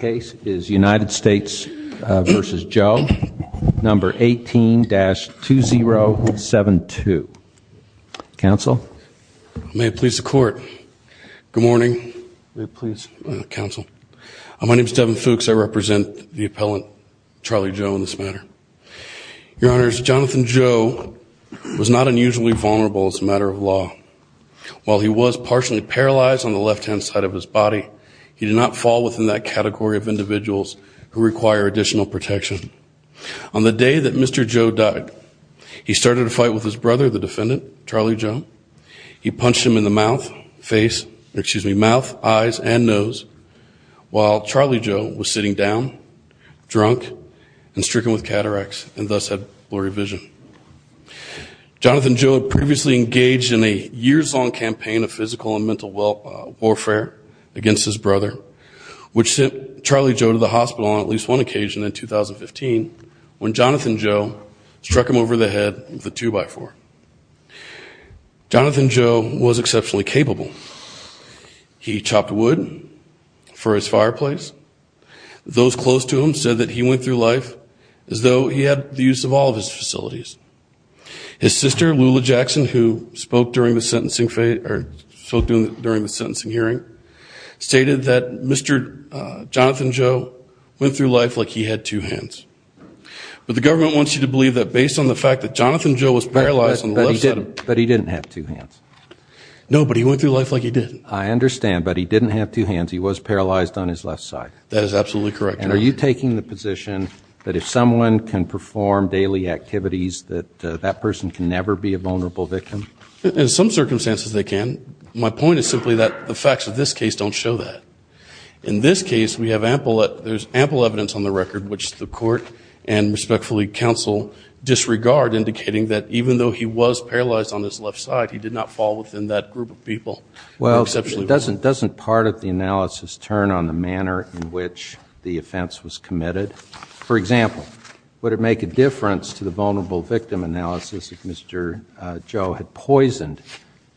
Case is United States v. Joe, No. 18-2072. Counsel? May it please the court. Good morning, counsel. My name is Devin Fuchs. I represent the appellant, Charlie Joe, in this matter. Your Honors, Jonathan Joe was not unusually vulnerable as a matter of law. While he was partially paralyzed on the left-hand side of his body, he did not fall within that category of individuals who require additional protection. On the day that Mr. Joe died, he started a fight with his brother, the defendant, Charlie Joe. He punched him in the mouth, eyes, and nose, while Charlie Joe was sitting down, drunk, and stricken with cataracts, and thus had blurry vision. Jonathan Joe had previously engaged in a years-long campaign of physical and mental warfare against his brother, which sent Charlie Joe to the hospital on at least one occasion in 2015, when Jonathan Joe struck him over the head with a two-by-four. Jonathan Joe was exceptionally capable. He chopped wood for his fireplace. Those close to him said that he went through life as though he had the use of all of his facilities. His sister, Lula Jackson, who spoke during the sentencing hearing, stated that Mr. Jonathan Joe went through life like he had two hands. But the government wants you to believe that, based on the fact that Jonathan Joe was paralyzed on the left side of his body... But he didn't have two hands. No, but he went through life like he did. I understand, but he didn't have two hands. He was paralyzed on his left side. That is absolutely correct, Your Honor. And are you taking the position that if someone can perform daily activities, that that person can never be a vulnerable victim? In some circumstances, they can. My point is simply that the facts of this case don't show that. In this case, we have ample evidence on the record, which the court and, respectfully, counsel disregard, indicating that even though he was paralyzed on his left side, he did not fall within that group of people. Well, doesn't part of the analysis turn on the manner in which the offense was committed? For example, would it make a difference to the vulnerable victim analysis if Mr. Joe had poisoned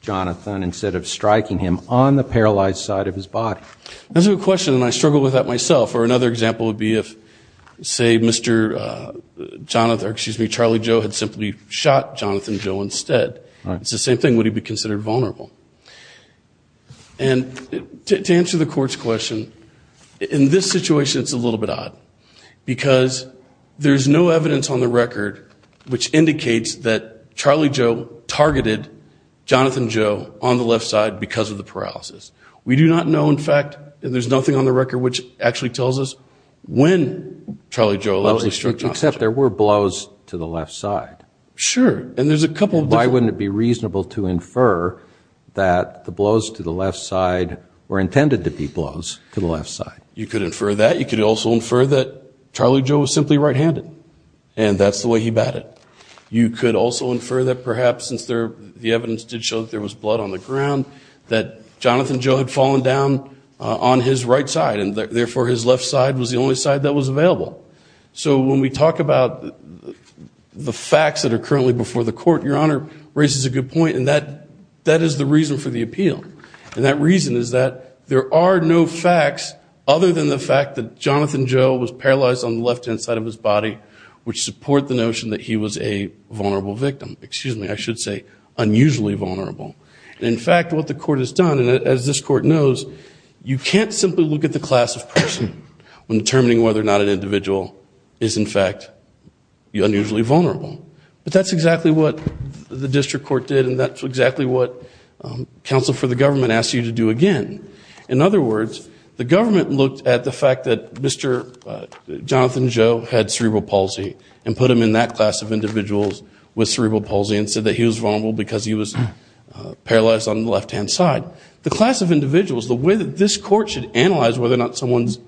Jonathan instead of striking him on the paralyzed side of his body? That's a good question, and I struggle with that myself. Or another example would be if, say, Mr. Jonathan, or excuse me, Charlie Joe, had simply shot Jonathan Joe instead. It's the same thing. Would he be considered vulnerable? And to answer the court's question, in this situation, it's a little bit odd, because there's no evidence on the record which indicates that Charlie Joe targeted Jonathan Joe on the left side because of the paralysis. We do not know, in fact, and there's nothing on the record which actually tells us when Charlie Joe allegedly struck Jonathan Joe. Well, except there were blows to the left side. Sure, and there's a couple different… …that the blows to the left side were intended to be blows to the left side. You could infer that. You could also infer that Charlie Joe was simply right-handed, and that's the way he batted. You could also infer that perhaps, since the evidence did show that there was blood on the ground, that Jonathan Joe had fallen down on his right side, and therefore his left side was the only side that was available. So when we talk about the facts that are currently before the court, Your Honor raises a good point, and that is the reason for the appeal. And that reason is that there are no facts other than the fact that Jonathan Joe was paralyzed on the left-hand side of his body, which support the notion that he was a vulnerable victim. Excuse me, I should say unusually vulnerable. In fact, what the court has done, and as this court knows, you can't simply look at the class of person when determining whether or not an individual is, in fact, unusually vulnerable. But that's exactly what the district court did, and that's exactly what counsel for the government asked you to do again. In other words, the government looked at the fact that Mr. Jonathan Joe had cerebral palsy and put him in that class of individuals with cerebral palsy and said that he was vulnerable because he was paralyzed on the left-hand side. The class of individuals, the way that this court should analyze whether or not someone's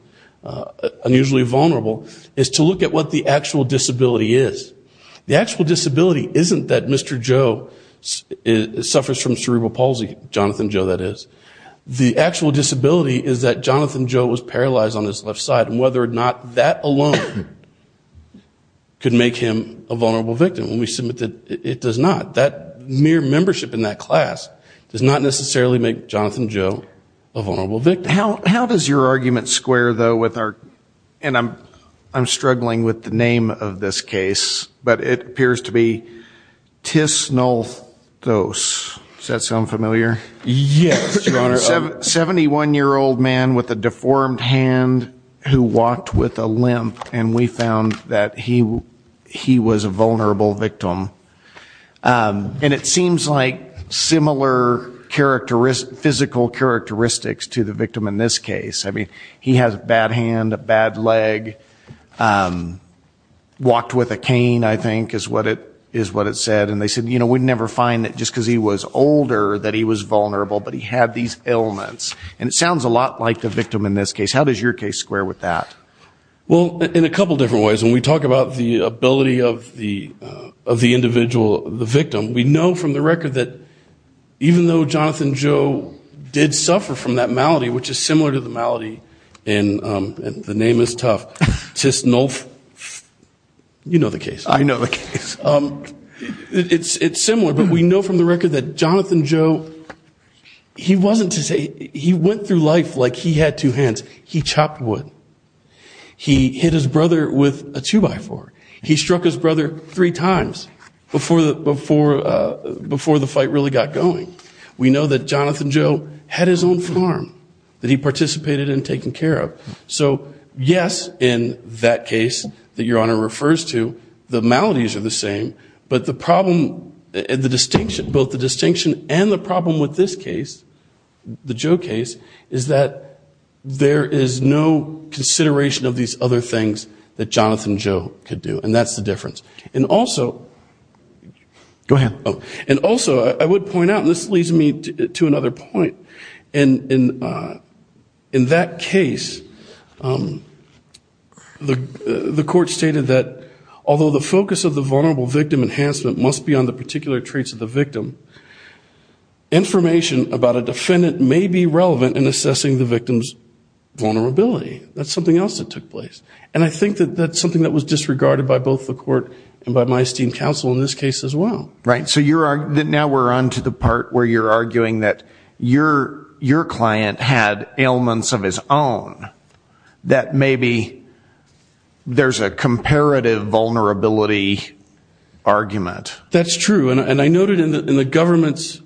unusually vulnerable is to look at what the actual disability is. The actual disability isn't that Mr. Joe suffers from cerebral palsy, Jonathan Joe that is. The actual disability is that Jonathan Joe was paralyzed on his left side, and whether or not that alone could make him a vulnerable victim. And we submit that it does not. That mere membership in that class does not necessarily make Jonathan Joe a vulnerable victim. How does your argument square, though, with our, and I'm struggling with the name of this case, but it appears to be tisnolthos. Does that sound familiar? Yes, Your Honor. 71-year-old man with a deformed hand who walked with a limp, and we found that he was a vulnerable victim. And it seems like similar physical characteristics to the victim in this case. I mean, he has a bad hand, a bad leg. Walked with a cane, I think, is what it said. And they said, you know, we'd never find that just because he was older that he was vulnerable, but he had these ailments. And it sounds a lot like the victim in this case. How does your case square with that? Well, in a couple different ways. When we talk about the ability of the individual, the victim, we know from the record that even though Jonathan Joe did suffer from that malady, which is similar to the malady in, the name is tough, tisnolthos. You know the case. I know the case. It's similar, but we know from the record that Jonathan Joe, he wasn't to say, he went through life like he had two hands. He chopped wood. He hit his brother with a two-by-four. He struck his brother three times before the fight really got going. We know that Jonathan Joe had his own farm that he participated in taking care of. So, yes, in that case that your Honor refers to, the maladies are the same. But the problem, the distinction, both the distinction and the problem with this case, the Joe case, is that there is no consideration of these other things that Jonathan Joe could do. And that's the difference. And also, go ahead. And also, I would point out, and this leads me to another point. In that case, the court stated that although the focus of the vulnerable victim enhancement must be on the particular traits of the victim, information about a defendant may be relevant in assessing the victim's vulnerability. That's something else that took place. And I think that that's something that was disregarded by both the court and by my esteemed counsel in this case as well. Right. So now we're on to the part where you're arguing that your client had ailments of his own, that maybe there's a comparative vulnerability argument. That's true. And I noted in the government's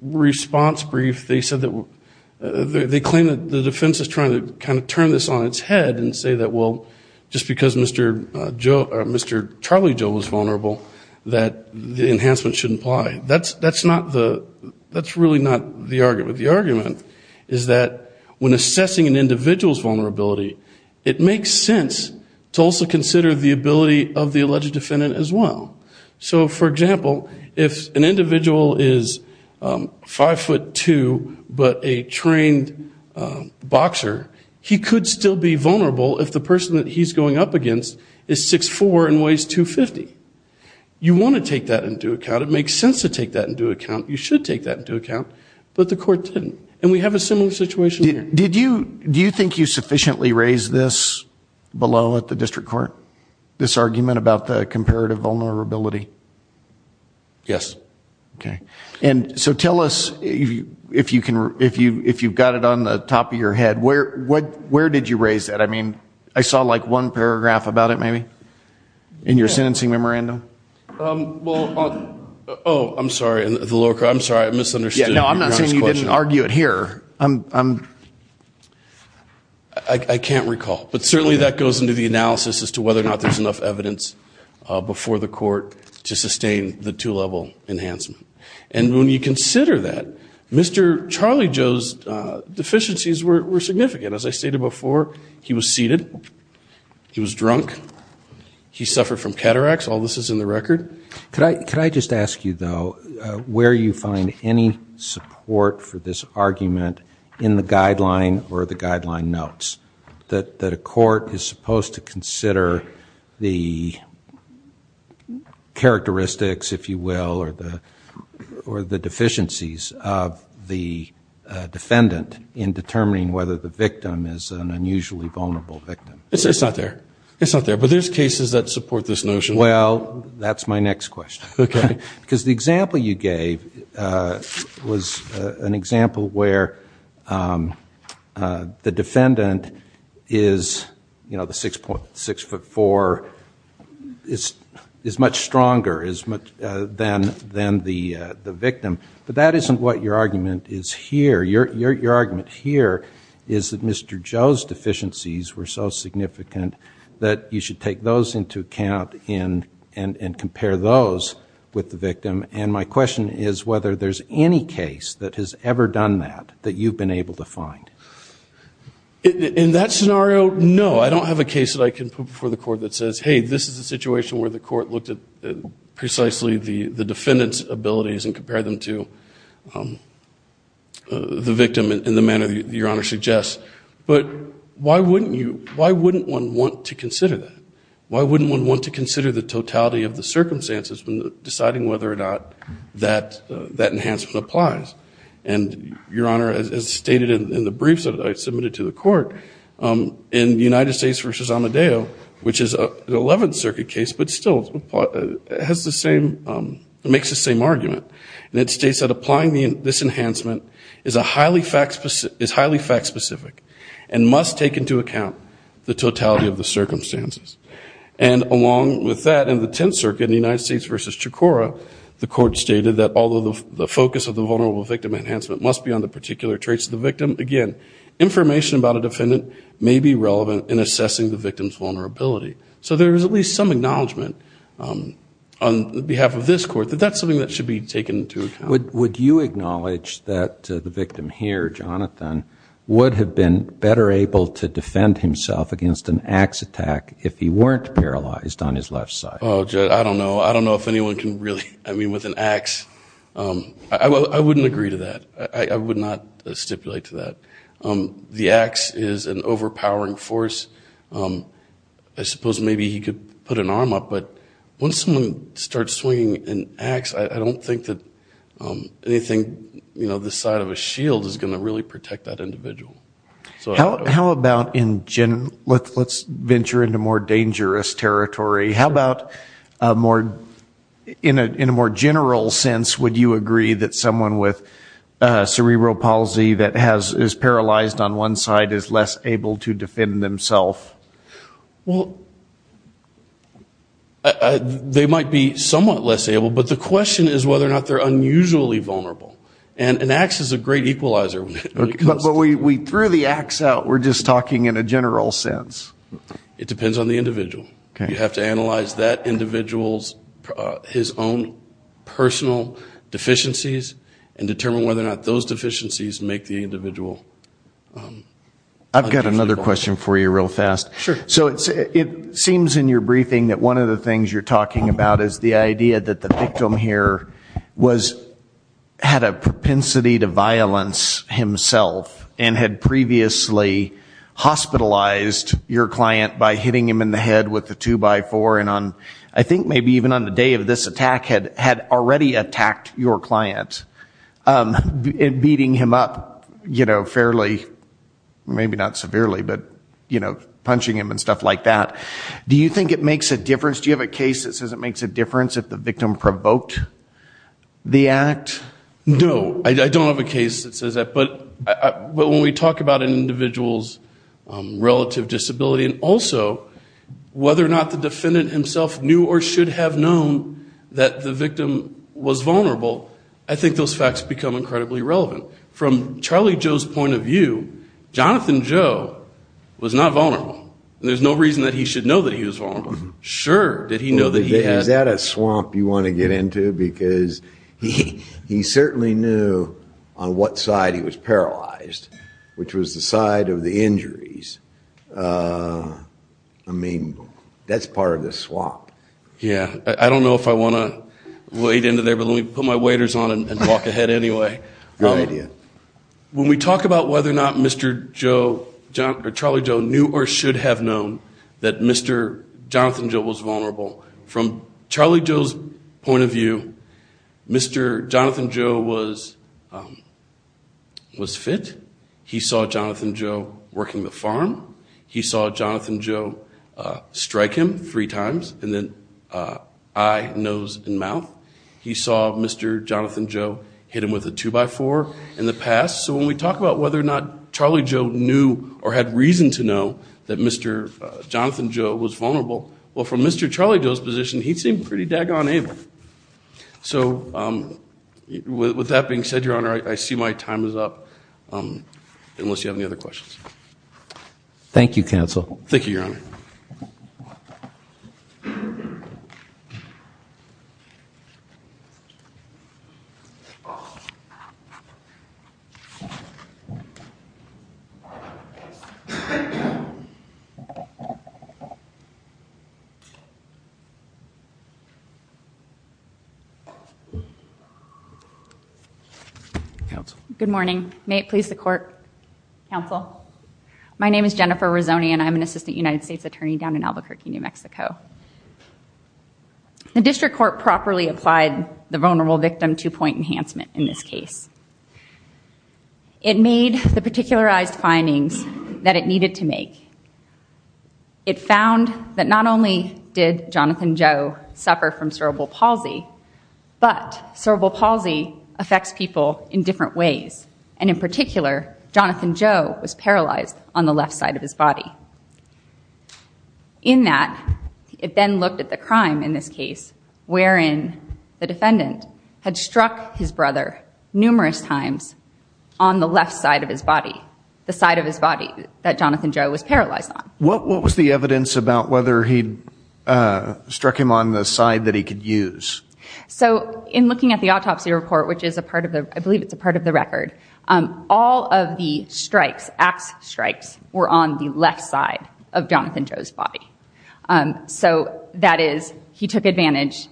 response brief, they claim that the defense is trying to kind of turn this on its head and say that, well, just because Mr. Charlie Joe was vulnerable, that the enhancement shouldn't apply. That's really not the argument. The argument is that when assessing an individual's vulnerability, it makes sense to also consider the ability of the alleged defendant as well. So, for example, if an individual is 5'2", but a trained boxer, he could still be vulnerable if the person that he's going up against is 6'4 and weighs 250. You want to take that into account. It makes sense to take that into account. You should take that into account. But the court didn't. And we have a similar situation here. Do you think you sufficiently raised this below at the district court, this argument about the comparative vulnerability? Yes. Okay. And so tell us if you've got it on the top of your head, where did you raise that? I mean, I saw like one paragraph about it maybe in your sentencing memorandum. Oh, I'm sorry. I'm sorry. I misunderstood. No, I'm not saying you didn't argue it here. I can't recall. But certainly that goes into the analysis as to whether or not there's enough evidence before the court to sustain the two-level enhancement. And when you consider that, Mr. Charlie Joe's deficiencies were significant. As I stated before, he was seated. He was drunk. He suffered from cataracts. All this is in the record. Could I just ask you, though, where you find any support for this argument in the guideline or the guideline notes that a court is supposed to consider the characteristics, if you will, or the deficiencies of the defendant in determining whether the victim is an unusually vulnerable victim? It's not there. It's not there. But there's cases that support this notion. Well, that's my next question. Okay. Because the example you gave was an example where the defendant is, you know, the 6'4", is much stronger than the victim. But that isn't what your argument is here. Your argument here is that Mr. Joe's deficiencies were so significant that you should take those into account and compare those with the victim. And my question is whether there's any case that has ever done that that you've been able to find. In that scenario, no. I don't have a case that I can put before the court that says, hey, this is a situation where the court looked at precisely the defendant's abilities and compared them to the victim in the manner that Your Honor suggests. But why wouldn't one want to consider that? Why wouldn't one want to consider the totality of the circumstances when deciding whether or not that enhancement applies? And, Your Honor, as stated in the briefs that I submitted to the court, in United States v. Amadeo, which is an 11th Circuit case, but still makes the same argument, and it states that applying this enhancement is highly fact-specific and must take into account the totality of the circumstances. And along with that, in the 10th Circuit in the United States v. Chikora, the court stated that although the focus of the vulnerable victim enhancement must be on the particular traits of the victim, again, information about a defendant may be relevant in assessing the victim's vulnerability. So there is at least some acknowledgment on behalf of this court that that's something that should be taken into account. Would you acknowledge that the victim here, Jonathan, would have been better able to defend himself against an axe attack if he weren't paralyzed on his left side? I don't know. I don't know if anyone can really, I mean, with an axe. I wouldn't agree to that. I would not stipulate to that. The axe is an overpowering force. I suppose maybe he could put an arm up, but once someone starts swinging an axe, I don't think that anything this side of a shield is going to really protect that individual. How about in general? Let's venture into more dangerous territory. How about in a more general sense, would you agree that someone with cerebral palsy that is paralyzed on one side is less able to defend themself? Well, they might be somewhat less able, but the question is whether or not they're unusually vulnerable. And an axe is a great equalizer. But we threw the axe out. We're just talking in a general sense. It depends on the individual. You have to analyze that individual's, his own personal deficiencies and determine whether or not those deficiencies make the individual. I've got another question for you real fast. Sure. So it seems in your briefing that one of the things you're talking about is the idea that the victim here had a propensity to violence himself and had previously hospitalized your client by hitting him in the head with a two-by-four. And I think maybe even on the day of this attack, had already attacked your client, beating him up fairly, maybe not severely, but punching him and stuff like that. Do you think it makes a difference? Do you have a case that says it makes a difference if the victim provoked the act? No. I don't have a case that says that. But when we talk about an individual's relative disability and also whether or not the defendant himself knew or should have known that the victim was vulnerable, I think those facts become incredibly relevant. From Charlie Joe's point of view, Jonathan Joe was not vulnerable. There's no reason that he should know that he was vulnerable. Sure, did he know that he had... Is that a swamp you want to get into? Because he certainly knew on what side he was paralyzed, which was the side of the injuries. I mean, that's part of the swamp. Yeah. I don't know if I want to wade into there, but let me put my waders on and walk ahead anyway. Good idea. When we talk about whether or not Mr. Joe, Charlie Joe, knew or should have known that Mr. Jonathan Joe was vulnerable, from Charlie Joe's point of view, Mr. Jonathan Joe was fit. He saw Jonathan Joe working the farm. He saw Jonathan Joe strike him three times and then eye, nose, and mouth. He saw Mr. Jonathan Joe hit him with a two-by-four in the past. So when we talk about whether or not Charlie Joe knew or had reason to know that Mr. Jonathan Joe was vulnerable, well, from Mr. Charlie Joe's position, he seemed pretty daggone able. So with that being said, Your Honor, I see my time is up, unless you have any other questions. Thank you, counsel. Thank you, Your Honor. Counsel. Good morning. May it please the court. Counsel. My name is Jennifer Rizzoni, and I'm an assistant United States attorney down in Albuquerque, New Mexico. The district court properly applied the vulnerable victim two-point enhancement in this case. It made the particularized findings that it needed to make. It found that not only did Jonathan Joe suffer from cerebral palsy, but cerebral palsy affects people in different ways, and in particular, Jonathan Joe was paralyzed on the left side of his body. In that, it then looked at the crime in this case, wherein the defendant had struck his brother numerous times on the left side of his body, the side of his body that Jonathan Joe was paralyzed on. What was the evidence about whether he struck him on the side that he could use? So in looking at the autopsy report, which is a part of the record, all of the strikes, axe strikes, were on the left side of Jonathan Joe's body. So that is, he took advantage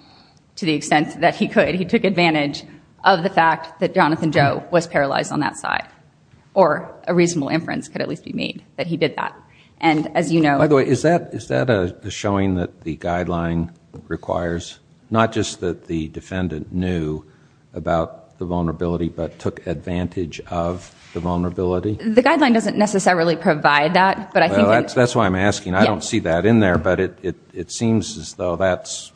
to the extent that he could. He took advantage of the fact that Jonathan Joe was paralyzed on that side, or a reasonable inference could at least be made that he did that. By the way, is that a showing that the guideline requires? Not just that the defendant knew about the vulnerability, but took advantage of the vulnerability? The guideline doesn't necessarily provide that. That's why I'm asking. I don't see that in there, but it seems as though that's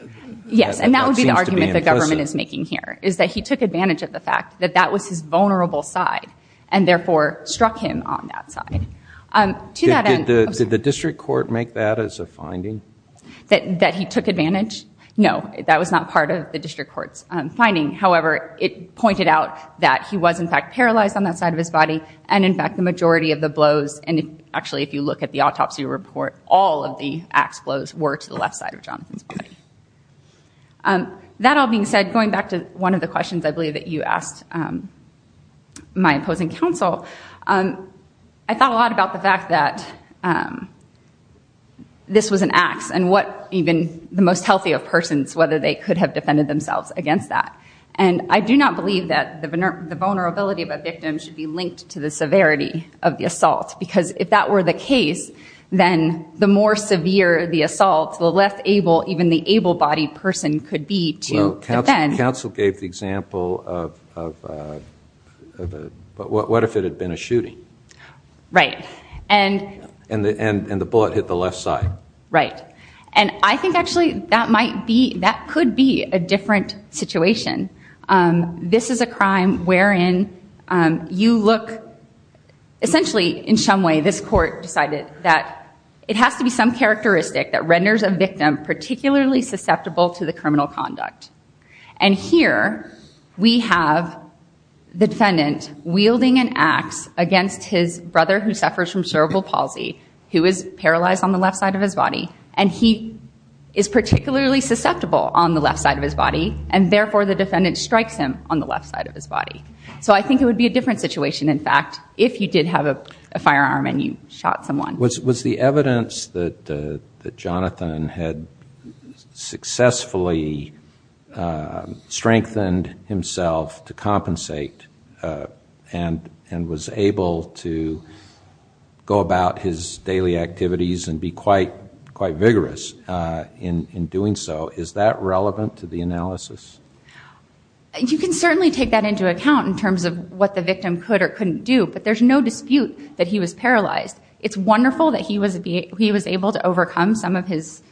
implicit. Yes, and that would be the argument the government is making here, is that he took advantage of the fact that that was his vulnerable side, and therefore struck him on that side. Did the district court make that as a finding? That he took advantage? No, that was not part of the district court's finding. However, it pointed out that he was in fact paralyzed on that side of his body, and in fact the majority of the blows, and actually if you look at the autopsy report, all of the axe blows were to the left side of Jonathan's body. That all being said, going back to one of the questions I believe that you asked my opposing counsel, I thought a lot about the fact that this was an axe, and what even the most healthy of persons, whether they could have defended themselves against that. I do not believe that the vulnerability of a victim should be linked to the severity of the assault, because if that were the case, then the more severe the assault, the less able even the able-bodied person could be to defend. Well, counsel gave the example of, what if it had been a shooting? Right. And the bullet hit the left side. Right. And I think actually that might be, that could be a different situation. This is a crime wherein you look, essentially in some way this court decided that it has to be some characteristic that renders a victim particularly susceptible to the criminal conduct. And here we have the defendant wielding an axe against his brother who suffers from cerebral palsy, who is paralyzed on the left side of his body, and he is particularly susceptible on the left side of his body, and therefore the defendant strikes him on the left side of his body. So I think it would be a different situation, in fact, if you did have a firearm and you shot someone. Was the evidence that Jonathan had successfully strengthened himself to compensate and was able to go about his daily activities and be quite vigorous in doing so, is that relevant to the analysis? You can certainly take that into account in terms of what the victim could or couldn't do, but there's no dispute that he was paralyzed. It's wonderful that he was able to overcome some of his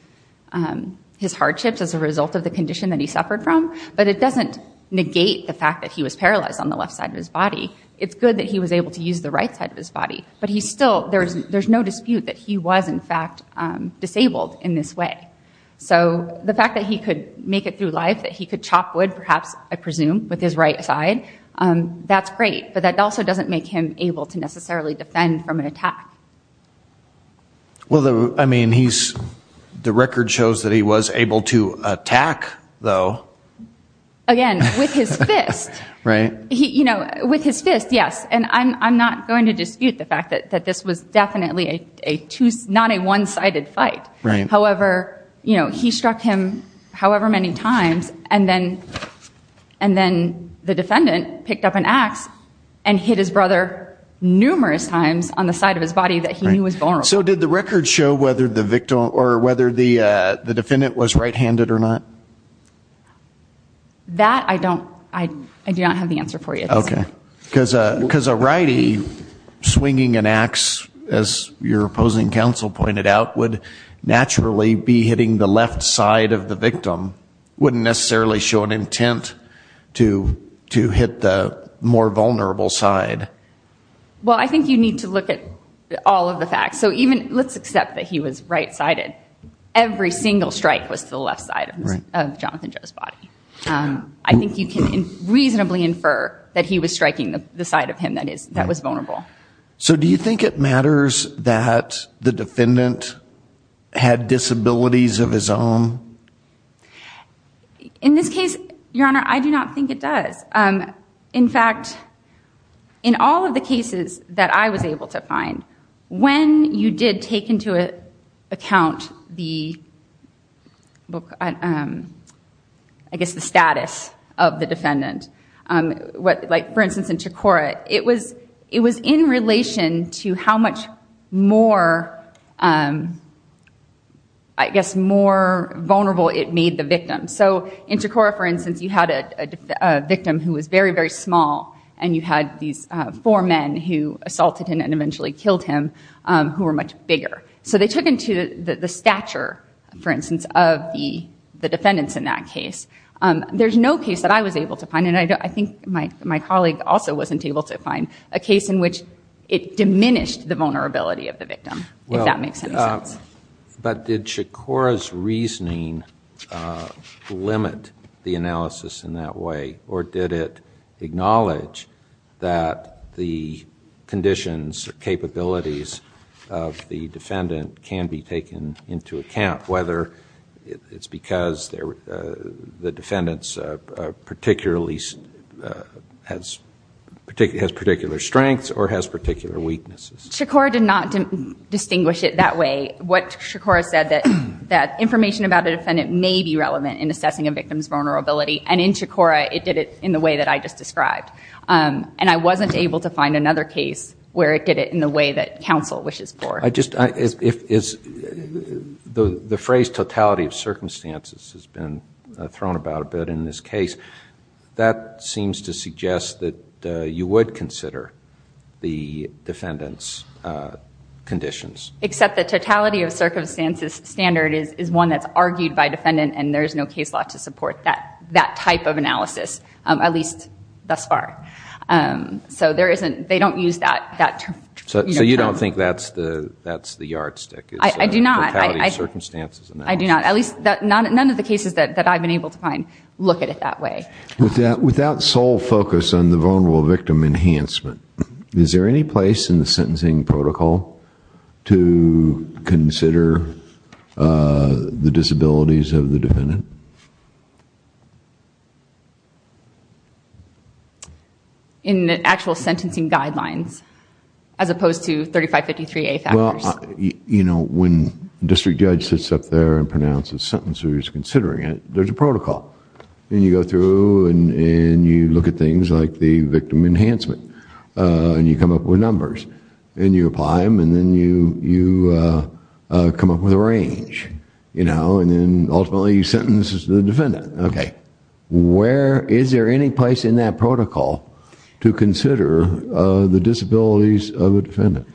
hardships as a result of the condition that he suffered from, but it doesn't negate the fact that he was paralyzed on the left side of his body. It's good that he was able to use the right side of his body, but there's no dispute that he was, in fact, disabled in this way. So the fact that he could make it through life, that he could chop wood, perhaps, I presume, with his right side, that's great. But that also doesn't make him able to necessarily defend from an attack. Well, I mean, the record shows that he was able to attack, though. Again, with his fist. Right. With his fist, yes. And I'm not going to dispute the fact that this was definitely not a one-sided fight. However, he struck him however many times, and then the defendant picked up an axe and hit his brother numerous times on the side of his body that he knew was vulnerable. So did the record show whether the defendant was right-handed or not? That I do not have the answer for you at this point. Because a righty swinging an axe, as your opposing counsel pointed out, would naturally be hitting the left side of the victim. It wouldn't necessarily show an intent to hit the more vulnerable side. Well, I think you need to look at all of the facts. So let's accept that he was right-sided. Every single strike was to the left side of Jonathan Joe's body. I think you can reasonably infer that he was striking the side of him that was vulnerable. So do you think it matters that the defendant had disabilities of his own? In this case, Your Honor, I do not think it does. In fact, in all of the cases that I was able to find, when you did take into account the status of the defendant, like, for instance, in Chakora, it was in relation to how much more vulnerable it made the victim. So in Chakora, for instance, you had a victim who was very, very small, and you had these four men who assaulted him and eventually killed him who were much bigger. So they took into the stature, for instance, of the defendants in that case. There's no case that I was able to find, and I think my colleague also wasn't able to find, a case in which it diminished the vulnerability of the victim, if that makes any sense. But did Chakora's reasoning limit the analysis in that way, or did it acknowledge that the conditions or capabilities of the defendant can be taken into account, whether it's because the defendant has particular strengths or has particular weaknesses? Chakora did not distinguish it that way. What Chakora said, that information about a defendant may be relevant in assessing a victim's vulnerability, and in Chakora, it did it in the way that I just described. And I wasn't able to find another case where it did it in the way that counsel wishes for. The phrase, totality of circumstances, has been thrown about a bit in this case. That seems to suggest that you would consider the defendant's conditions. Except the totality of circumstances standard is one that's argued by defendant, and there is no case law to support that type of analysis, at least thus far. So they don't use that term. So you don't think that's the yardstick? I do not. I do not. At least none of the cases that I've been able to find look at it that way. Without sole focus on the vulnerable victim enhancement, is there any place in the sentencing protocol to consider the disabilities of the defendant? In actual sentencing guidelines, as opposed to 3553A factors? When district judge sits up there and pronounces a sentence, who's considering it, there's a protocol. You go through and you look at things like the victim enhancement, and you come up with numbers. You apply them and then you come up with a range. Ultimately, you sentence the defendant. Okay. Is there any place in that protocol to consider the disabilities of the defendant?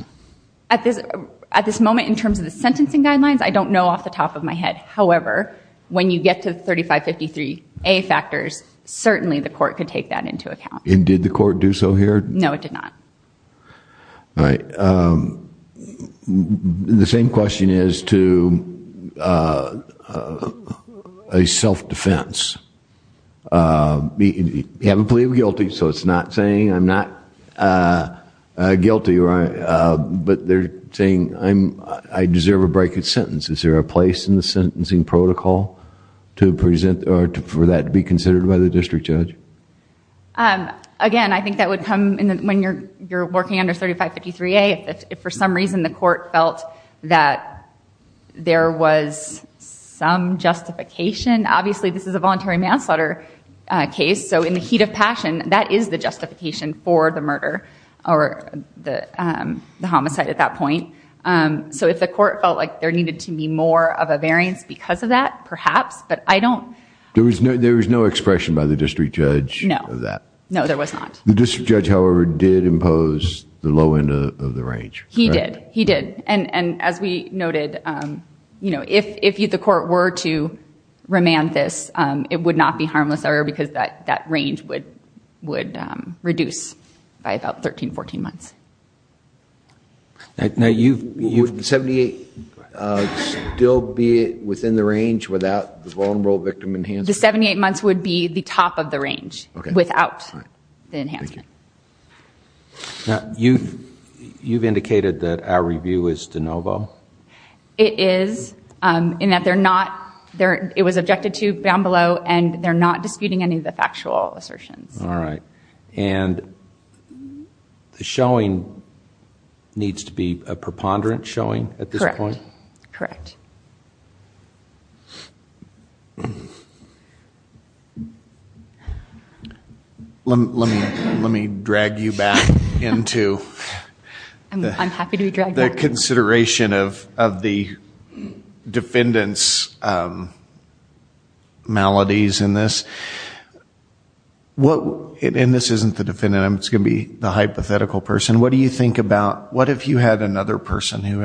At this moment, in terms of the sentencing guidelines, I don't know off the top of my head. However, when you get to 3553A factors, certainly the court could take that into account. And did the court do so here? No, it did not. All right. The same question is to a self-defense. You haven't pleaded guilty, so it's not saying I'm not guilty. But they're saying I deserve a break in sentence. Is there a place in the sentencing protocol for that to be considered by the district judge? Again, I think that would come when you're working under 3553A. If for some reason the court felt that there was some justification, obviously this is a voluntary manslaughter case, so in the heat of passion, that is the justification for the murder or the homicide at that point. So if the court felt like there needed to be more of a variance because of that, perhaps, but I don't. There was no expression by the district judge of that? No. No, there was not. The district judge, however, did impose the low end of the range, right? He did. He did. And as we noted, if the court were to remand this, it would not be harmless, because that range would reduce by about 13, 14 months. Now, would 78 still be within the range without the vulnerable victim enhancement? The 78 months would be the top of the range without the enhancement. Thank you. Now, you've indicated that our review is de novo? It is, in that it was objected to down below, and they're not disputing any of the factual assertions. All right. And the showing needs to be a preponderant showing at this point? Correct. Correct. Thank you. Let me drag you back into the consideration of the defendant's maladies in this. And this isn't the defendant. It's going to be the hypothetical person. What do you think about what if you had another person who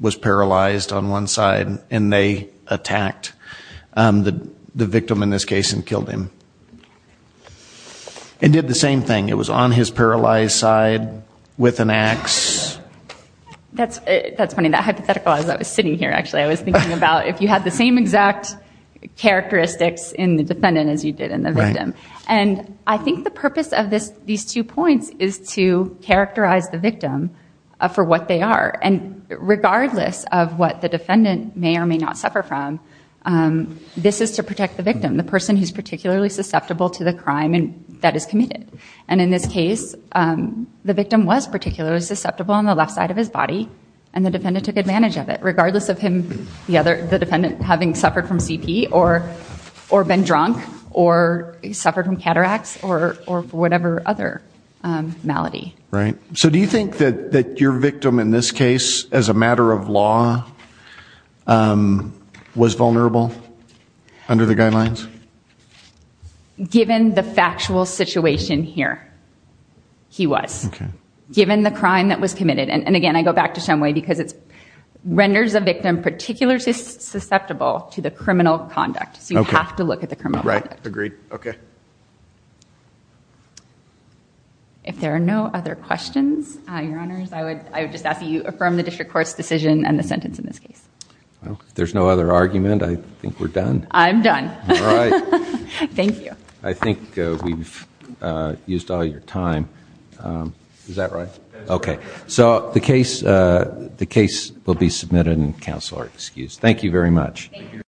was paralyzed on one side and they attacked the victim in this case and killed him and did the same thing? It was on his paralyzed side with an ax? That's funny. That hypothetical, as I was sitting here, actually, I was thinking about if you had the same exact characteristics in the defendant as you did in the victim. And I think the purpose of these two points is to characterize the victim for what they are. And regardless of what the defendant may or may not suffer from, this is to protect the victim, the person who's particularly susceptible to the crime that is committed. And in this case, the victim was particularly susceptible on the left side of his body, and the defendant took advantage of it, regardless of the defendant having suffered from CP or been drunk or suffered from cataracts or whatever other malady. Right. So do you think that your victim in this case, as a matter of law, was vulnerable under the guidelines? Given the factual situation here, he was. Okay. Given the crime that was committed. And, again, I go back to some way because it renders a victim particularly susceptible to the criminal conduct. So you have to look at the criminal conduct. Right. Agreed. Okay. If there are no other questions, Your Honors, I would just ask that you affirm the district court's decision and the sentence in this case. If there's no other argument, I think we're done. I'm done. All right. Thank you. I think we've used all your time. Is that right? That is correct. Okay. So the case will be submitted and counsel are excused. Thank you very much. Thank you.